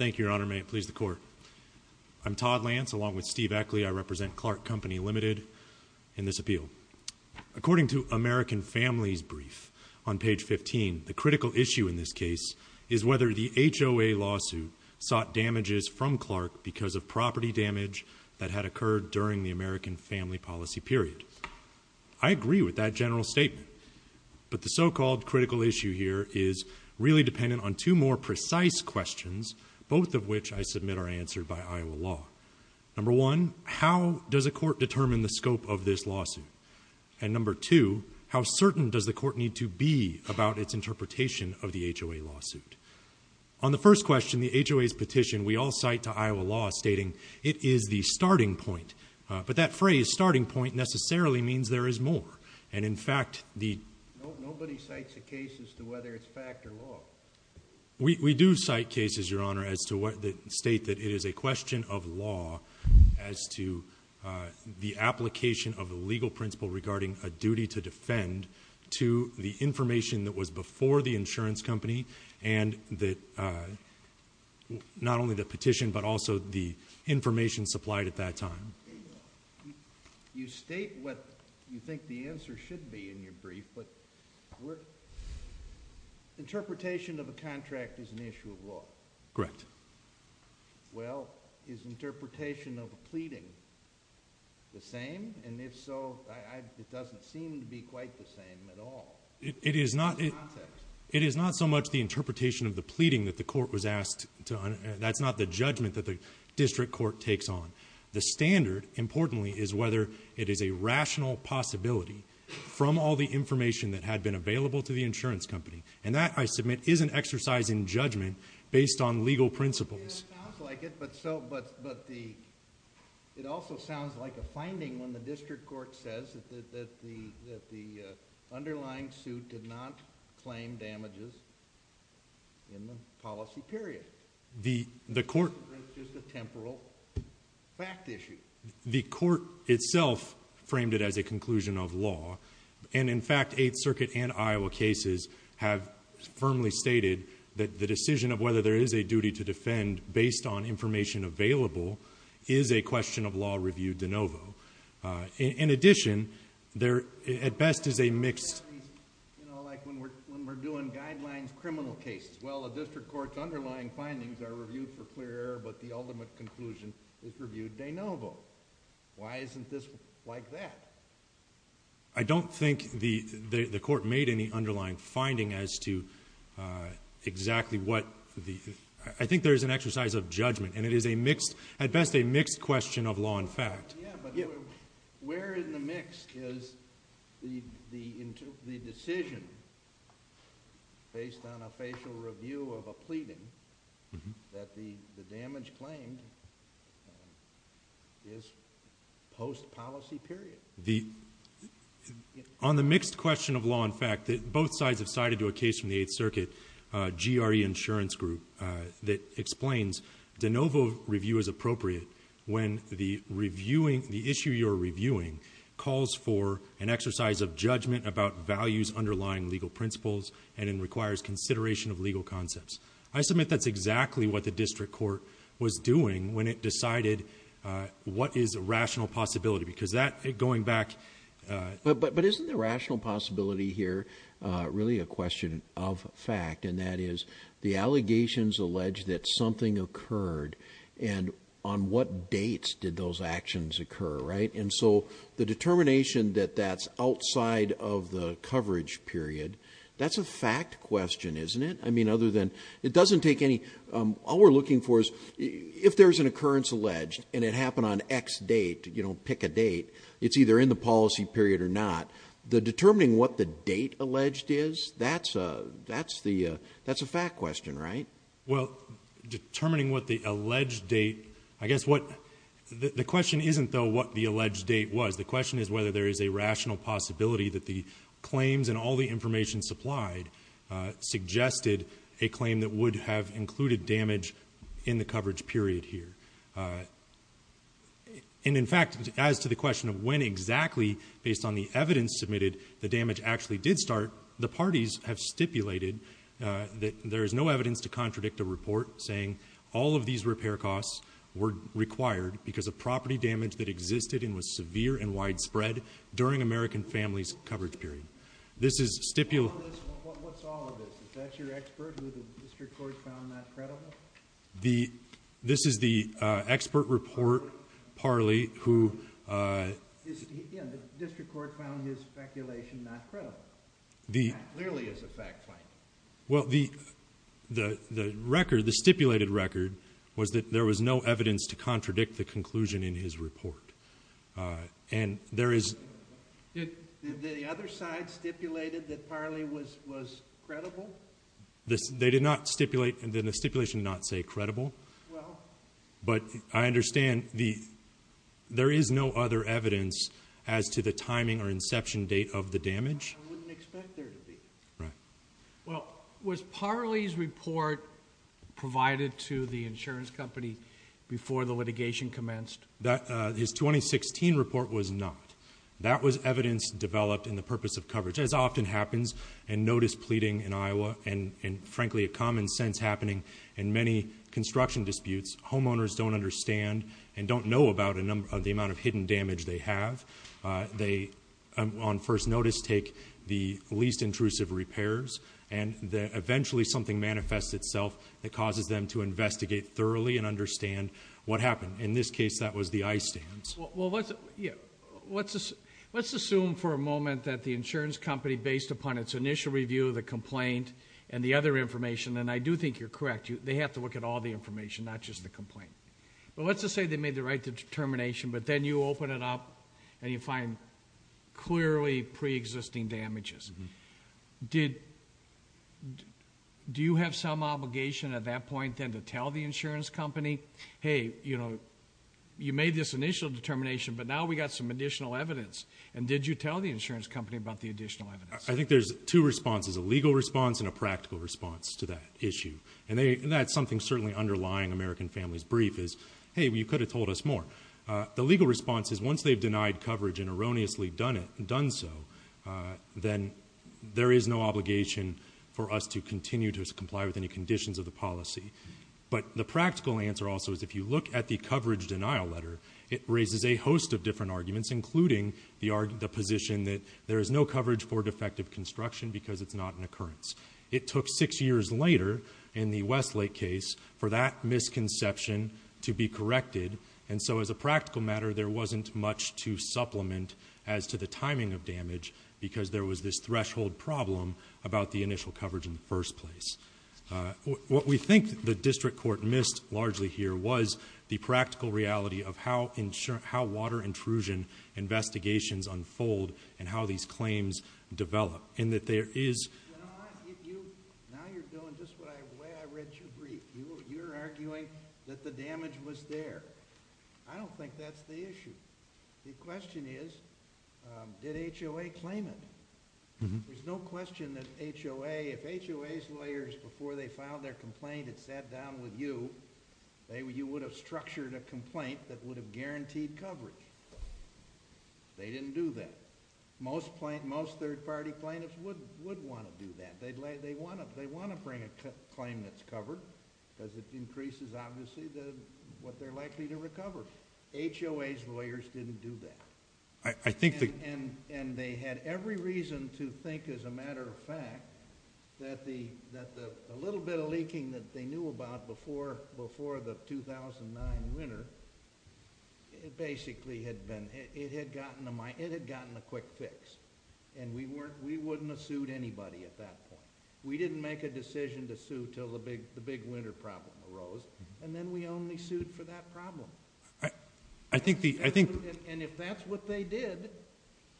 I'm Todd Lance, along with Steve Eckley, I represent Clarke Company, Limited in this appeal. According to American Family's brief on page 15, the critical issue in this case is whether the HOA lawsuit sought damages from Clarke because of property damage that had occurred during the American Family Policy period. I agree with that general statement, but the so-called critical issue here is really dependent on two more precise questions, both of which I submit are answered by Iowa law. Number one, how does a court determine the scope of this lawsuit? And number two, how certain does the court need to be about its interpretation of the HOA lawsuit? On the first question, the HOA's petition, we all cite to Iowa law stating it is the starting point, but that phrase starting point necessarily means there is more, and in fact the... Nobody cites a case as to whether it's fact or law. We do cite cases, Your Honor, that state that it is a question of law as to the application of the legal principle regarding a duty to defend to the information that was before the insurance company and that not only the petition but also the information supplied at that time. You state what you think the answer should be in your brief, but interpretation of a contract is an issue of law. Correct. Well, is interpretation of a pleading the same? And if so, it doesn't seem to be quite the same at all. It is not so much the interpretation of the pleading that the court was asked to... That's not the judgment that the district court takes on. The standard, importantly, is whether it is a rational possibility from all the information that had been available to the insurance company, and that, I submit, is an exercise in judgment based on legal principles. It sounds like it, but it also sounds like a finding when the district court says that the underlying suit did not claim damages in the policy period. The court... It's just a temporal fact issue. The court itself framed it as a conclusion of law, and in fact, Eighth Circuit and Iowa cases have firmly stated that the decision of whether there is a duty to defend based on information available is a question of law review de novo. In addition, at best is a mixed... You know, like when we're doing guidelines criminal cases. Well, a district court's underlying findings are reviewed for clear error, but the ultimate conclusion is reviewed de novo. Why isn't this like that? I don't think the court made any underlying finding as to exactly what the... I think there is an exercise of judgment, and it is a mixed... at best, a mixed question of law and fact. Yeah, but where in the mix is the decision, based on a facial review of a pleading, that the damage claimed is post-policy period? On the mixed question of law and fact, both sides have sided to a case from the Eighth Circuit. The issue you're reviewing calls for an exercise of judgment about values underlying legal principles, and it requires consideration of legal concepts. I submit that's exactly what the district court was doing when it decided what is a rational possibility, because that, going back... But isn't the rational possibility here really a question of fact, and that is the allegations alleged that something occurred, and on what dates did those actions occur, right? And so, the determination that that's outside of the coverage period, that's a fact question, isn't it? I mean, other than... it doesn't take any... all we're looking for is, if there's an occurrence alleged, and it happened on X date, you know, pick a date, it's either in the policy period or not, the determining what the date alleged is, that's a fact question, right? Well, determining what the alleged date... I guess what... the question isn't, though, what the alleged date was. The question is whether there is a rational possibility that the claims and all the information supplied suggested a claim that would have included damage in the coverage period here. And, in fact, as to the question of when exactly, based on the evidence submitted, the damage actually did start, the parties have stipulated that there is no evidence to contradict a report saying all of these repair costs were required because of property damage that existed and was severe and widespread during American families' coverage period. This is stipulated... What's all of this? Is that your expert, who the district court found not credible? This is the expert report, Parley, who... Yeah, the district court found his speculation not credible. That clearly is a fact claim. Well, the stipulated record was that there was no evidence to contradict the conclusion in his report. And there is... Did the other side stipulate that Parley was credible? They did not stipulate... the stipulation did not say credible. But I understand there is no other evidence as to the timing or inception date of the damage? I wouldn't expect there to be. Right. Well, was Parley's report provided to the insurance company before the litigation commenced? His 2016 report was not. That was evidence developed in the purpose of coverage, as often happens in notice pleading in Iowa and, frankly, a common sense happening in many construction disputes. Homeowners don't understand and don't know about the amount of hidden damage they have. They, on first notice, take the least intrusive repairs, and eventually something manifests itself that causes them to investigate thoroughly and understand what happened. In this case, that was the ice stands. Well, let's assume for a moment that the insurance company, based upon its initial review of the complaint and the other information... and I do think you're correct. They have to look at all the information, not just the complaint. But let's just say they made the right determination, but then you open it up and you find clearly pre-existing damages. Do you have some obligation at that point then to tell the insurance company, hey, you know, you made this initial determination, but now we got some additional evidence. And did you tell the insurance company about the additional evidence? I think there's two responses, a legal response and a practical response to that issue. And that's something certainly underlying American Families Brief is, hey, you could have told us more. The legal response is once they've denied coverage and erroneously done so, then there is no obligation for us to continue to comply with any conditions of the policy. But the practical answer also is if you look at the coverage denial letter, it raises a host of different arguments, including the position that there is no coverage for defective construction because it's not an occurrence. It took six years later in the Westlake case for that misconception to be corrected. And so, as a practical matter, there wasn't much to supplement as to the timing of damage because there was this threshold problem about the initial coverage in the first place. What we think the district court missed largely here was the practical reality of how water intrusion investigations unfold and how these claims develop. Now you're doing just the way I read your brief. You're arguing that the damage was there. I don't think that's the issue. The question is, did HOA claim it? There's no question that HOA, if HOA lawyers before they filed their complaint had sat down with you, you would have structured a complaint that would have guaranteed coverage. They didn't do that. Most third-party plaintiffs would want to do that. They want to bring a claim that's covered because it increases, obviously, what they're likely to recover. HOA's lawyers didn't do that. And they had every reason to think, as a matter of fact, that the little bit of leaking that they knew about before the 2009 winter, it basically had gotten a quick fix. And we wouldn't have sued anybody at that point. We didn't make a decision to sue until the big winter problem arose. And then we only sued for that problem. And if that's what they did,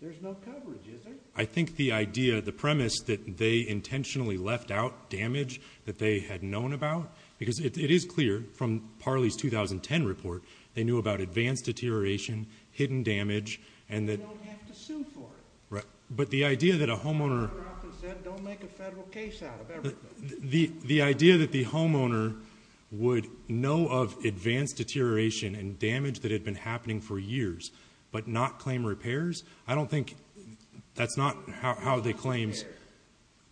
there's no coverage, is there? I think the idea, the premise that they intentionally left out damage that they had known about, because it is clear from Parley's 2010 report, they knew about advanced deterioration, hidden damage, and that... They don't have to sue for it. But the idea that a homeowner... The homeowner often said, don't make a federal case out of everything. The idea that the homeowner would know of advanced deterioration and damage that had been happening for years, but not claim repairs, I don't think that's not how they claimed...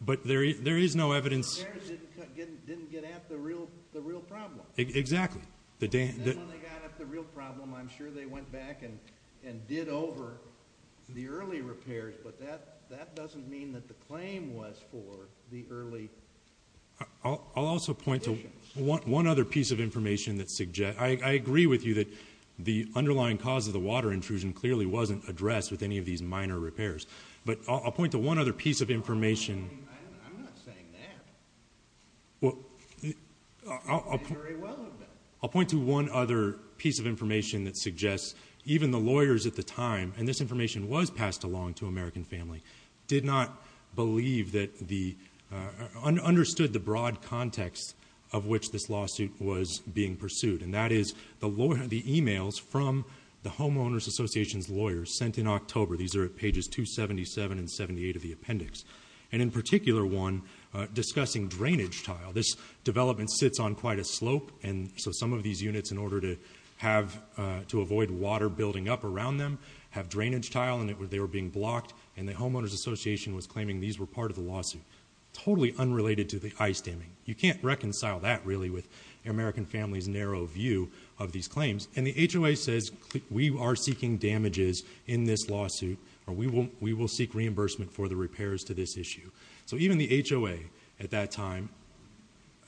But there is no evidence... Repairs didn't get at the real problem. Exactly. And then when they got at the real problem, I'm sure they went back and did over the early repairs. But that doesn't mean that the claim was for the early... I'll also point to one other piece of information that suggests... I agree with you that the underlying cause of the water intrusion clearly wasn't addressed with any of these minor repairs. But I'll point to one other piece of information... I'm not saying that. Well... I agree very well with that. I'll point to one other piece of information that suggests even the lawyers at the time, and this information was passed along to American Family, did not believe that the... understood the broad context of which this lawsuit was being pursued. And that is the emails from the Homeowners Association's lawyers sent in October. These are at pages 277 and 278 of the appendix. And in particular one discussing drainage tile. This development sits on quite a slope. And so some of these units, in order to have... to avoid water building up around them, have drainage tile and they were being blocked. And the Homeowners Association was claiming these were part of the lawsuit. Totally unrelated to the ice damming. You can't reconcile that, really, with American Family's narrow view of these claims. And the HOA says, we are seeking damages in this lawsuit. We will seek reimbursement for the repairs to this issue. So even the HOA, at that time,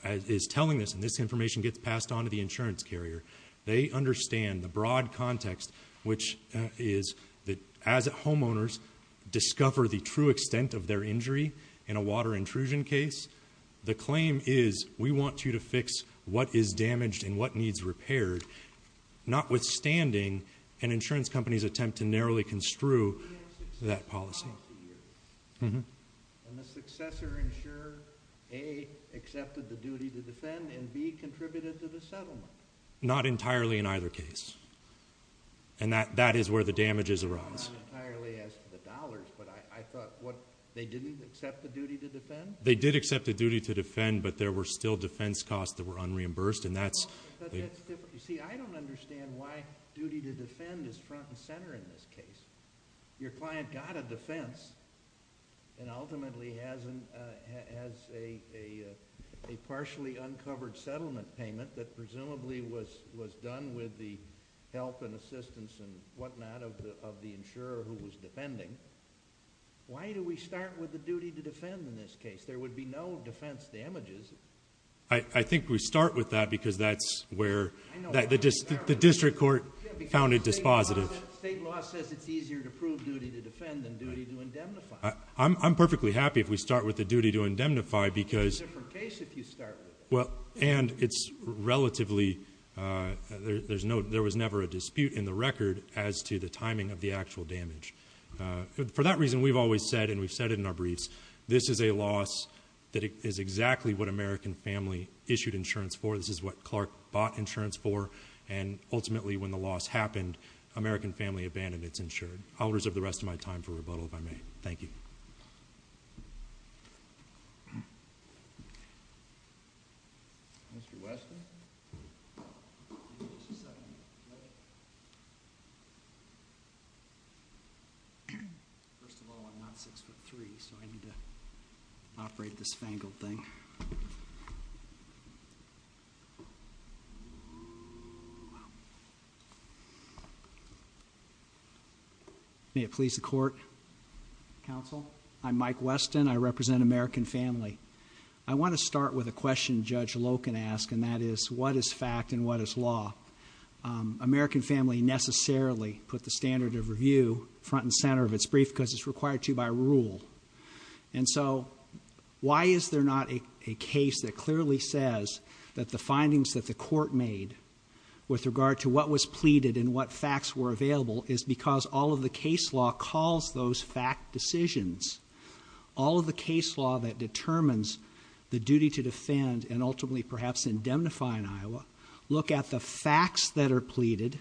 is telling this. And this information gets passed on to the insurance carrier. They understand the broad context, which is that as homeowners discover the true extent of their injury in a water intrusion case, the claim is, we want you to fix what is damaged and what needs repaired. Notwithstanding an insurance company's attempt to narrowly construe that policy. And the successor insurer, A, accepted the duty to defend and B, contributed to the settlement. Not entirely in either case. And that is where the damages arise. Not entirely as to the dollars, but I thought, what, they didn't accept the duty to defend? They did accept the duty to defend, but there were still defense costs that were unreimbursed. And that's... But that's different. You see, I don't understand why duty to defend is front and center in this case. Your client got a defense and ultimately has a partially uncovered settlement payment that presumably was done with the help and assistance and whatnot of the insurer who was defending. Why do we start with the duty to defend in this case? There would be no defense damages. I think we start with that because that's where... The district court found it dispositive. State law says it's easier to prove duty to defend than duty to indemnify. I'm perfectly happy if we start with the duty to indemnify because... It's a different case if you start with it. And it's relatively... There was never a dispute in the record as to the timing of the actual damage. For that reason, we've always said, and we've said it in our briefs, this is a loss that is exactly what American Family issued insurance for. This is what Clark bought insurance for. And ultimately, when the loss happened, American Family abandoned its insurance. I'll reserve the rest of my time for rebuttal, if I may. Thank you. Mr. Weston? First of all, I'm not 6'3", so I need to operate this fangled thing. May it please the Court, Counsel. I'm Mike Weston. I represent American Family. I want to start with a question Judge Loken asked, and that is, what is fact and what is law? American Family necessarily put the standard of review front and center of its brief because it's required to by rule. And so, why is there not a case that clearly says that the findings that the court made with regard to what was pleaded and what facts were available is because all of the case law calls those fact decisions. All of the case law that determines the duty to defend and ultimately perhaps indemnify in Iowa, look at the facts that are pleaded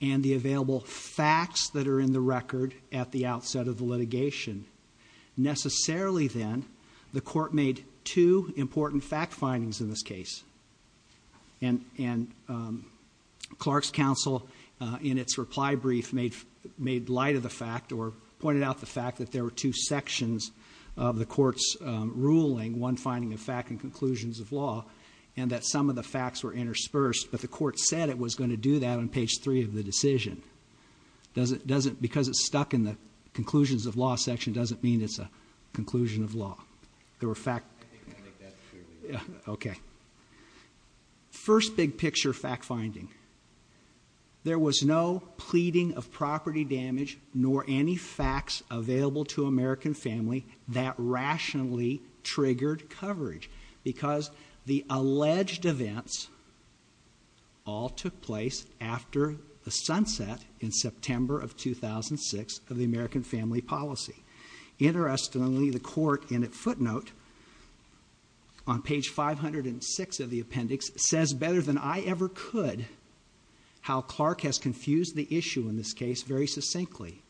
and the available facts that are in the record at the outset of the litigation. Necessarily then, the court made two important fact findings in this case. And Clark's counsel, in its reply brief, made light of the fact or pointed out the fact that there were two sections of the court's ruling, one finding of fact and conclusions of law, and that some of the facts were interspersed. But the court said it was going to do that on page 3 of the decision. Because it's stuck in the conclusions of law section doesn't mean it's a conclusion of law. There were fact... I think that's true. Okay. First big picture fact finding. There was no pleading of property damage nor any facts available to American family that rationally triggered coverage because the alleged events all took place after the sunset in September of 2006 of the American family policy. Interestingly, the court in its footnote on page 506 of the appendix says better than I ever could how Clark has confused the issue in this case very succinctly.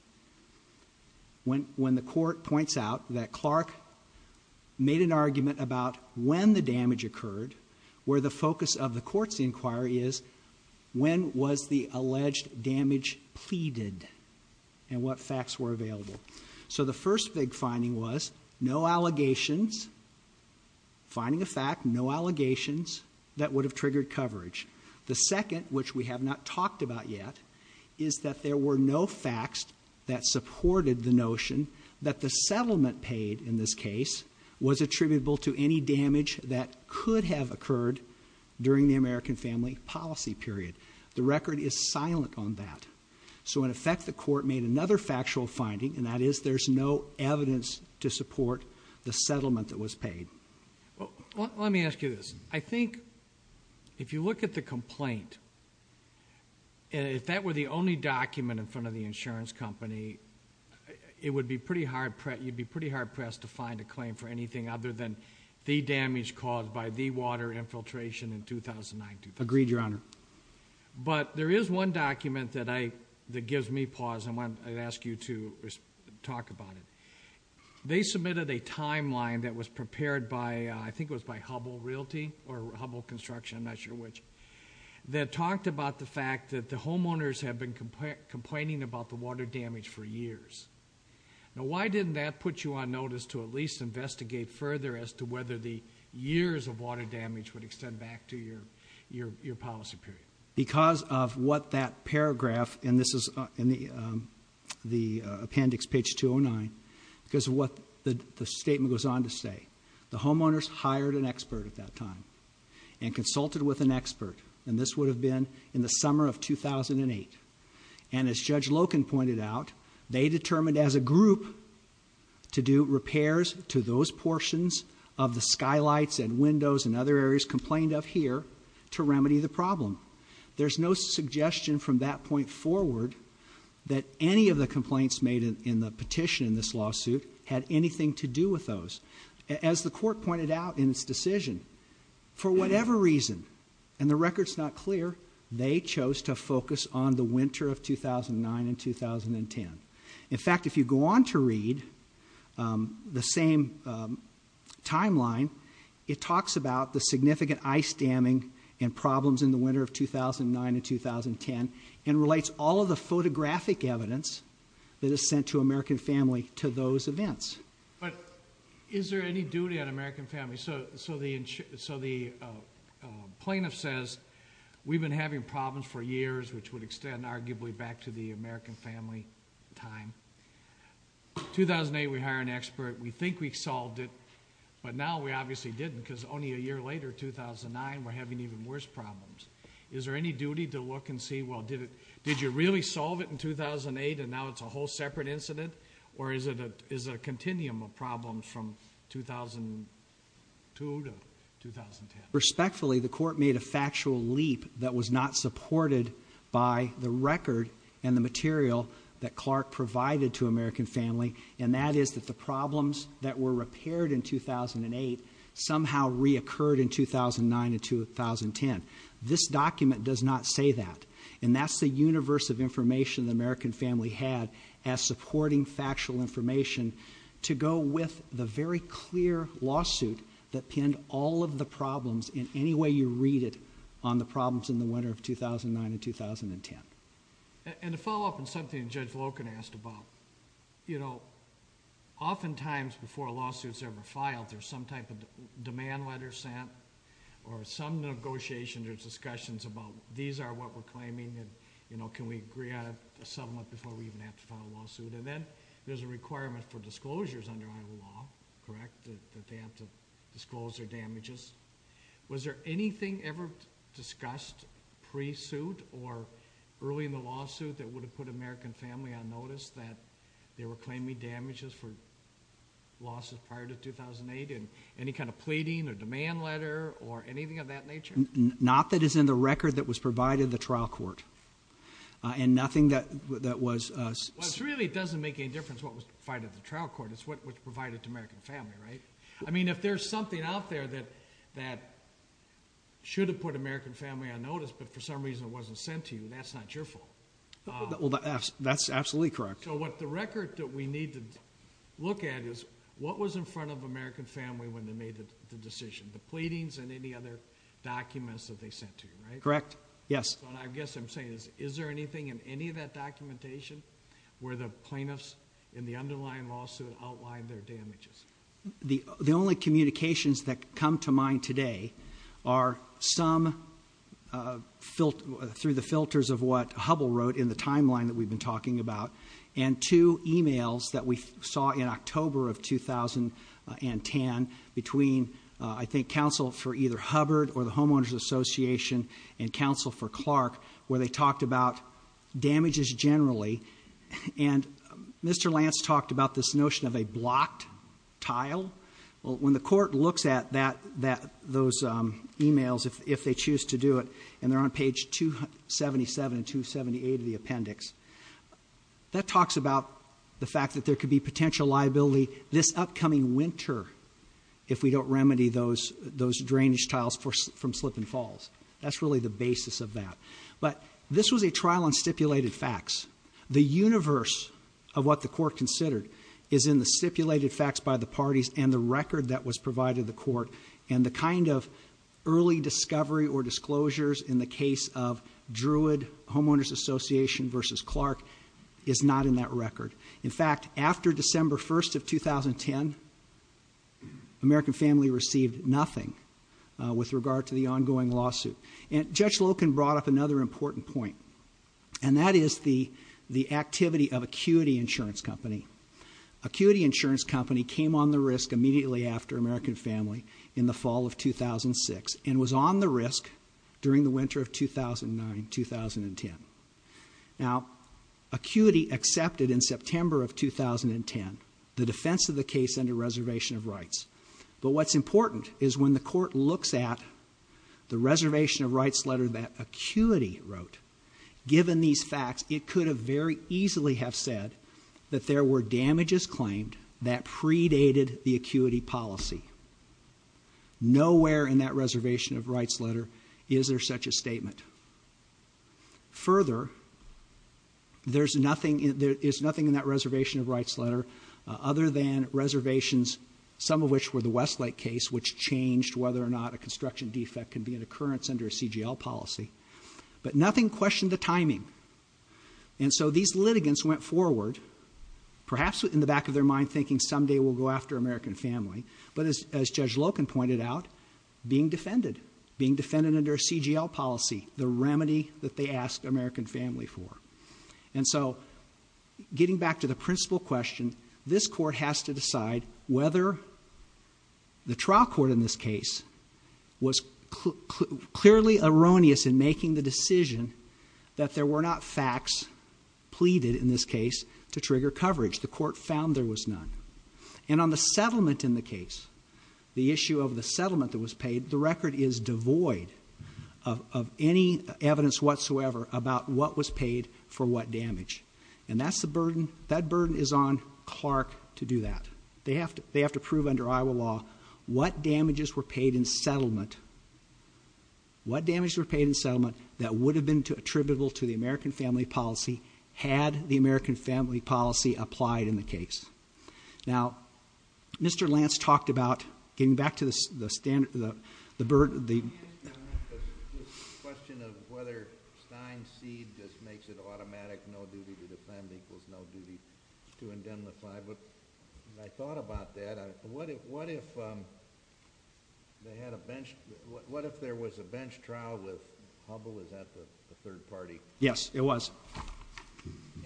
When the court points out that Clark made an argument about when the damage occurred, where the focus of the court's inquiry is when was the alleged damage pleaded and what facts were available. So the first big finding was no allegations. Finding a fact, no allegations that would have triggered coverage. The second, which we have not talked about yet, is that there were no facts that supported the notion that the settlement paid in this case was attributable to any damage that could have occurred during the American family policy period. The record is silent on that. So in effect, the court made another factual finding, and that is there's no evidence to support the settlement that was paid. Let me ask you this. I think if you look at the complaint, if that were the only document in front of the insurance company, you'd be pretty hard-pressed to find a claim for anything other than the damage caused by the water infiltration in 2009. Agreed, Your Honor. But there is one document that gives me pause and I'd ask you to talk about it. They submitted a timeline that was prepared by, I think it was by Hubbell Realty or Hubbell Construction, I'm not sure which, that talked about the fact that the homeowners had been complaining about the water damage for years. Now, why didn't that put you on notice to at least investigate further as to whether the years of water damage would extend back to your policy period? Because of what that paragraph, and this is in the appendix, page 209, because of what the statement goes on to say. The homeowners hired an expert at that time and consulted with an expert, and this would have been in the summer of 2008. And as Judge Loken pointed out, they determined as a group to do repairs to those portions of the skylights and windows and other areas complained of here to remedy the problem. There's no suggestion from that point forward that any of the complaints made in the petition in this lawsuit had anything to do with those. As the court pointed out in its decision, for whatever reason, and the record's not clear, they chose to focus on the winter of 2009 and 2010. In fact, if you go on to read the same timeline, it talks about the significant ice damming and problems in the winter of 2009 and 2010 and relates all of the photographic evidence that is sent to American Family to those events. But is there any duty on American Family? So the plaintiff says, we've been having problems for years, which would extend arguably back to the American Family time. 2008, we hire an expert. We think we solved it, but now we obviously didn't, because only a year later, 2009, we're having even worse problems. Is there any duty to look and see, well, did you really solve it in 2008, and now it's a whole separate incident? Or is it a continuum of problems from 2002 to 2010? Respectfully, the court made a factual leap that was not supported by the record and the material that Clark provided to American Family, and that is that the problems that were repaired in 2008 somehow reoccurred in 2009 and 2010. This document does not say that, and that's the universe of information the American Family had as supporting factual information to go with the very clear lawsuit that pinned all of the problems, in any way you read it, on the problems in the winter of 2009 and 2010. And to follow up on something Judge Loken asked about, oftentimes before a lawsuit is ever filed, there's some type of demand letter sent or some negotiations or discussions about these are what we're claiming and can we agree on a settlement before we even have to file a lawsuit. And then there's a requirement for disclosures under Iowa law, correct, that they have to disclose their damages. Was there anything ever discussed pre-suit or early in the lawsuit that would have put American Family on notice that they were claiming damages for lawsuits prior to 2008? Any kind of pleading or demand letter or anything of that nature? Not that is in the record that was provided to the trial court, and nothing that was... Well, it really doesn't make any difference what was provided to the trial court. It's what was provided to American Family, right? I mean, if there's something out there that should have put American Family on notice but for some reason it wasn't sent to you, that's not your fault. Well, that's absolutely correct. So what the record that we need to look at is what was in front of American Family when they made the decision, the pleadings and any other documents that they sent to you, right? Correct, yes. So I guess I'm saying is, is there anything in any of that documentation where the plaintiffs in the underlying lawsuit outlined their damages? The only communications that come to mind today are some, through the filters of what Hubble wrote in the timeline that we've been talking about, and two e-mails that we saw in October of 2010 between, I think, counsel for either Hubbard or the Homeowners Association and counsel for Clark where they talked about damages generally. And Mr. Lance talked about this notion of a blocked tile. When the court looks at those e-mails, if they choose to do it, and they're on page 277 and 278 of the appendix, that talks about the fact that there could be potential liability this upcoming winter if we don't remedy those drainage tiles from Slip and Falls. That's really the basis of that. But this was a trial on stipulated facts. The universe of what the court considered is in the stipulated facts by the parties and the record that was provided to the court and the kind of early discovery or disclosures in the case of Druid Homeowners Association versus Clark is not in that record. In fact, after December 1st of 2010, American Family received nothing with regard to the ongoing lawsuit. And Judge Loken brought up another important point, and that is the activity of Acuity Insurance Company. Acuity Insurance Company came on the risk immediately after American Family in the fall of 2006 and was on the risk during the winter of 2009-2010. Now, Acuity accepted in September of 2010 the defense of the case under reservation of rights. But what's important is when the court looks at the reservation of rights letter that Acuity wrote, given these facts, it could have very easily have said that there were damages claimed that predated the Acuity policy. Nowhere in that reservation of rights letter is there such a statement. Further, there's nothing in that reservation of rights letter other than reservations, some of which were the Westlake case, which changed whether or not a construction defect can be an occurrence under a CGL policy. But nothing questioned the timing. And so these litigants went forward, perhaps in the back of their mind, thinking someday we'll go after American Family, but as Judge Loken pointed out, being defended, being defended under a CGL policy, the remedy that they asked American Family for. And so getting back to the principal question, this court has to decide whether the trial court in this case was clearly erroneous in making the decision that there were not facts pleaded, in this case, to trigger coverage. The court found there was none. And on the settlement in the case, the issue of the settlement that was paid, the record is devoid of any evidence whatsoever about what was paid for what damage. And that burden is on Clark to do that. They have to prove under Iowa law what damages were paid in settlement, what damages were paid in settlement that would have been attributable to the American Family policy had the American Family policy applied in the case. Now, Mr. Lance talked about getting back to the standard, the burden. Just a question of whether Stein's seed just makes it automatic, no duty to defend equals no duty to indemnify. I thought about that. What if there was a bench trial with Hubbell, is that the third party? Yes, it was.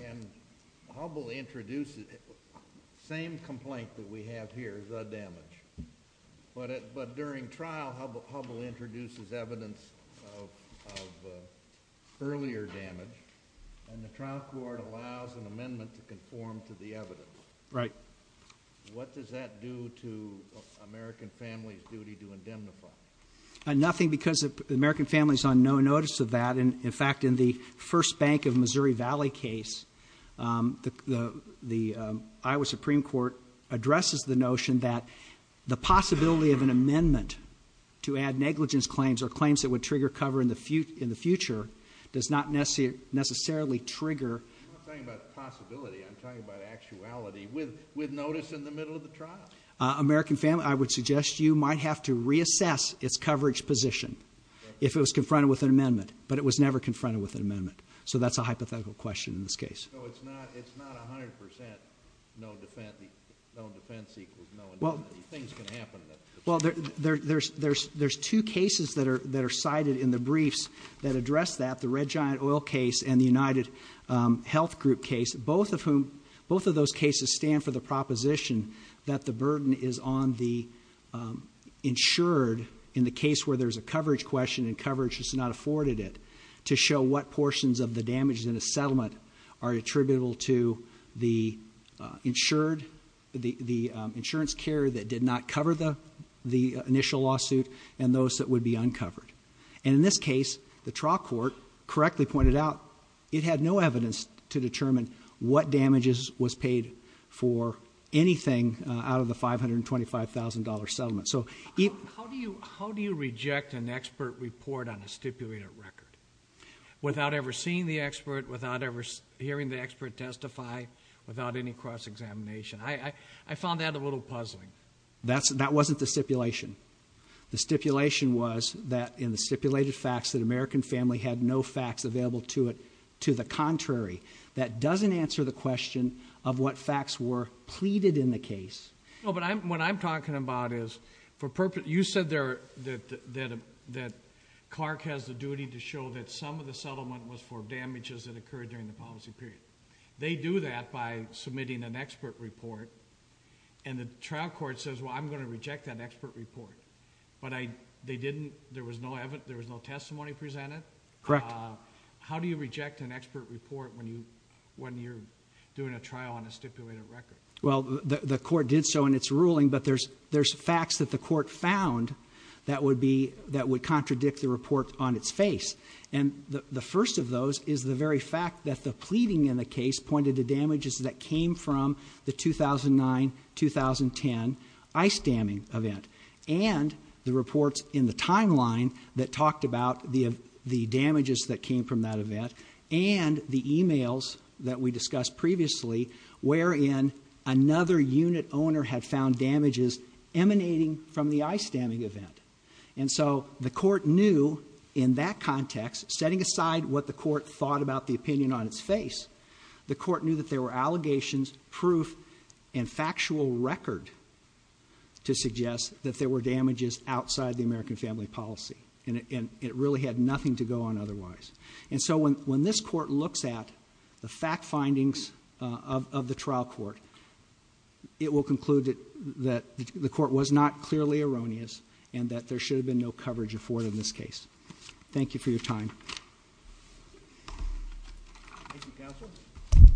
And Hubbell introduced it. Same complaint that we have here, the damage. But during trial, Hubbell introduces evidence of earlier damage, and the trial court allows an amendment to conform to the evidence. Right. What does that do to American Family's duty to indemnify? Nothing, because the American Family is on no notice of that. In fact, in the First Bank of Missouri Valley case, the Iowa Supreme Court addresses the notion that the possibility of an amendment to add negligence claims or claims that would trigger cover in the future does not necessarily trigger. I'm not talking about the possibility. I'm talking about actuality with notice in the middle of the trial. American Family, I would suggest you might have to reassess its coverage position if it was confronted with an amendment, but it was never confronted with an amendment. So that's a hypothetical question in this case. No, it's not 100% no defense equals no amendment. Things can happen. Well, there's two cases that are cited in the briefs that address that, the Red Giant Oil case and the United Health Group case, both of those cases stand for the proposition that the burden is on the insured in the case where there's a coverage question and coverage is not afforded it to show what portions of the damages in a settlement are attributable to the insured, the insurance carrier that did not cover the initial lawsuit and those that would be uncovered. And in this case, the trial court correctly pointed out it had no evidence to determine what damages was paid for anything out of the $525,000 settlement. How do you reject an expert report on a stipulated record without ever seeing the expert, without ever hearing the expert testify, without any cross-examination? I found that a little puzzling. That wasn't the stipulation. The stipulation was that in the stipulated facts that American Family had no facts available to it. To the contrary, that doesn't answer the question of what facts were pleaded in the case. No, but what I'm talking about is, you said that Clark has the duty to show that some of the settlement was for damages that occurred during the policy period. They do that by submitting an expert report and the trial court says, well, I'm going to reject that expert report, but there was no testimony presented? Correct. How do you reject an expert report when you're doing a trial on a stipulated record? Well, the court did so in its ruling, but there's facts that the court found that would contradict the report on its face. The first of those is the very fact that the pleading in the case pointed to damages that came from the 2009-2010 ice damming event and the reports in the timeline that talked about the damages that came from that event and the e-mails that we discussed previously wherein another unit owner had found damages emanating from the ice damming event. And so the court knew in that context, setting aside what the court thought about the opinion on its face, the court knew that there were allegations, proof, and factual record to suggest that there were damages outside the American Family policy and it really had nothing to go on otherwise. And so when this court looks at the fact findings of the trial court, it will conclude that the court was not clearly erroneous and that there should have been no coverage afforded in this case. Thank you for your time. Thank you, counsel. Mr.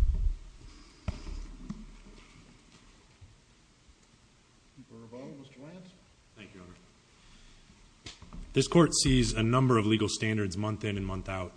Rebaud, Mr. Lance. Thank you, Your Honor. This court sees a number of legal standards month in and month out.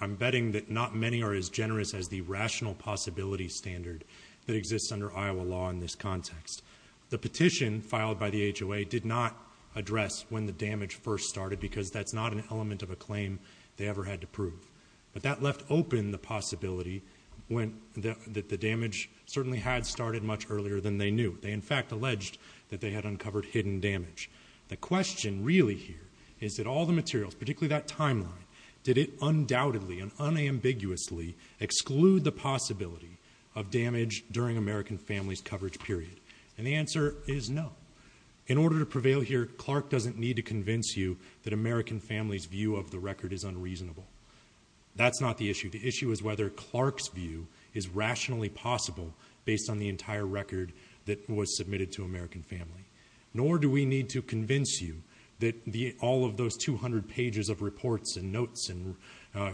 I'm betting that not many are as generous as the rational possibility standard that exists under Iowa law in this context. The petition filed by the HOA did not address when the damage first started because that's not an element of a claim they ever had to prove. But that left open the possibility that the damage certainly had started much earlier than they knew. They, in fact, alleged that they had uncovered hidden damage. The question really here is that all the materials, particularly that timeline, did it undoubtedly and unambiguously exclude the possibility of damage during American Family's coverage period? And the answer is no. In order to prevail here, Clark doesn't need to convince you that American Family's view of the record is unreasonable. That's not the issue. The issue is whether Clark's view is rationally possible based on the entire record that was submitted to American Family. Nor do we need to convince you that all of those 200 pages of reports and notes and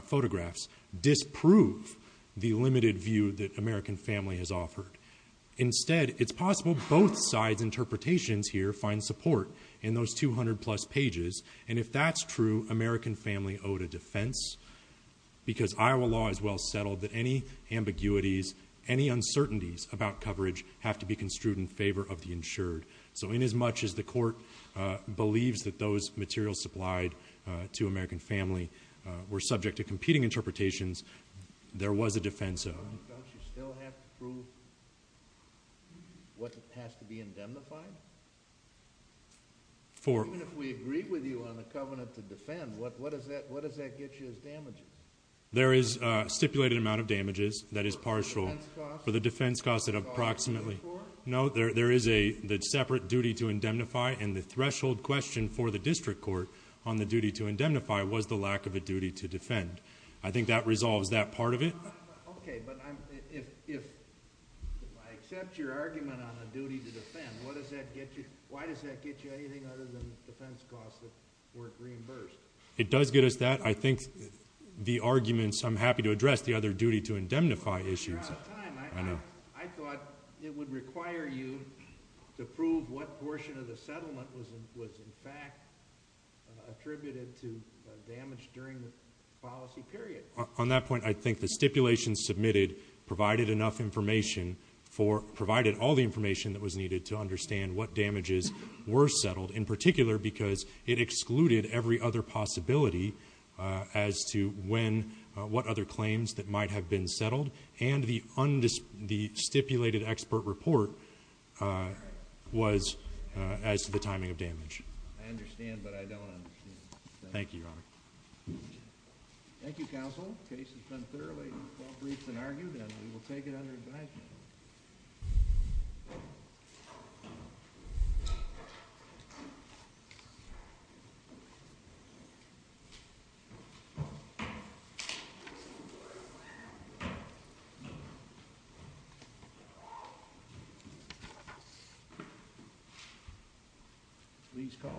photographs disprove the limited view that American Family has offered. Instead, it's possible both sides' interpretations here find support in those 200-plus pages. And if that's true, American Family owed a defense because Iowa law is well settled that any ambiguities, any uncertainties about coverage have to be construed in favor of the insured. So inasmuch as the court believes that those materials supplied to American Family were subject to competing interpretations, there was a defense of... You still have to prove what has to be indemnified? Even if we agree with you on the covenant to defend, what does that get you as damages? There is a stipulated amount of damages that is partial... For the defense cost? For the defense cost at approximately... There is a separate duty to indemnify, and the threshold question for the district court on the duty to indemnify was the lack of a duty to defend. I think that resolves that part of it. Okay, but if I accept your argument on a duty to defend, why does that get you anything other than the defense cost worth reimbursed? It does get us that. I think the arguments... I'm happy to address the other duty to indemnify issues. You're out of time. I thought it would require you to prove what portion of the settlement was in fact attributed to damage during the policy period. On that point, I think the stipulation submitted provided enough information for... provided all the information that was needed to understand what damages were settled, in particular because it excluded every other possibility as to when... what other claims that might have been settled, and the stipulated expert report was as to the timing of damage. I understand, but I don't understand. Thank you, Your Honor. Thank you, counsel. The case has been thoroughly well-briefed and argued, and we will take it under advisement. Thank you.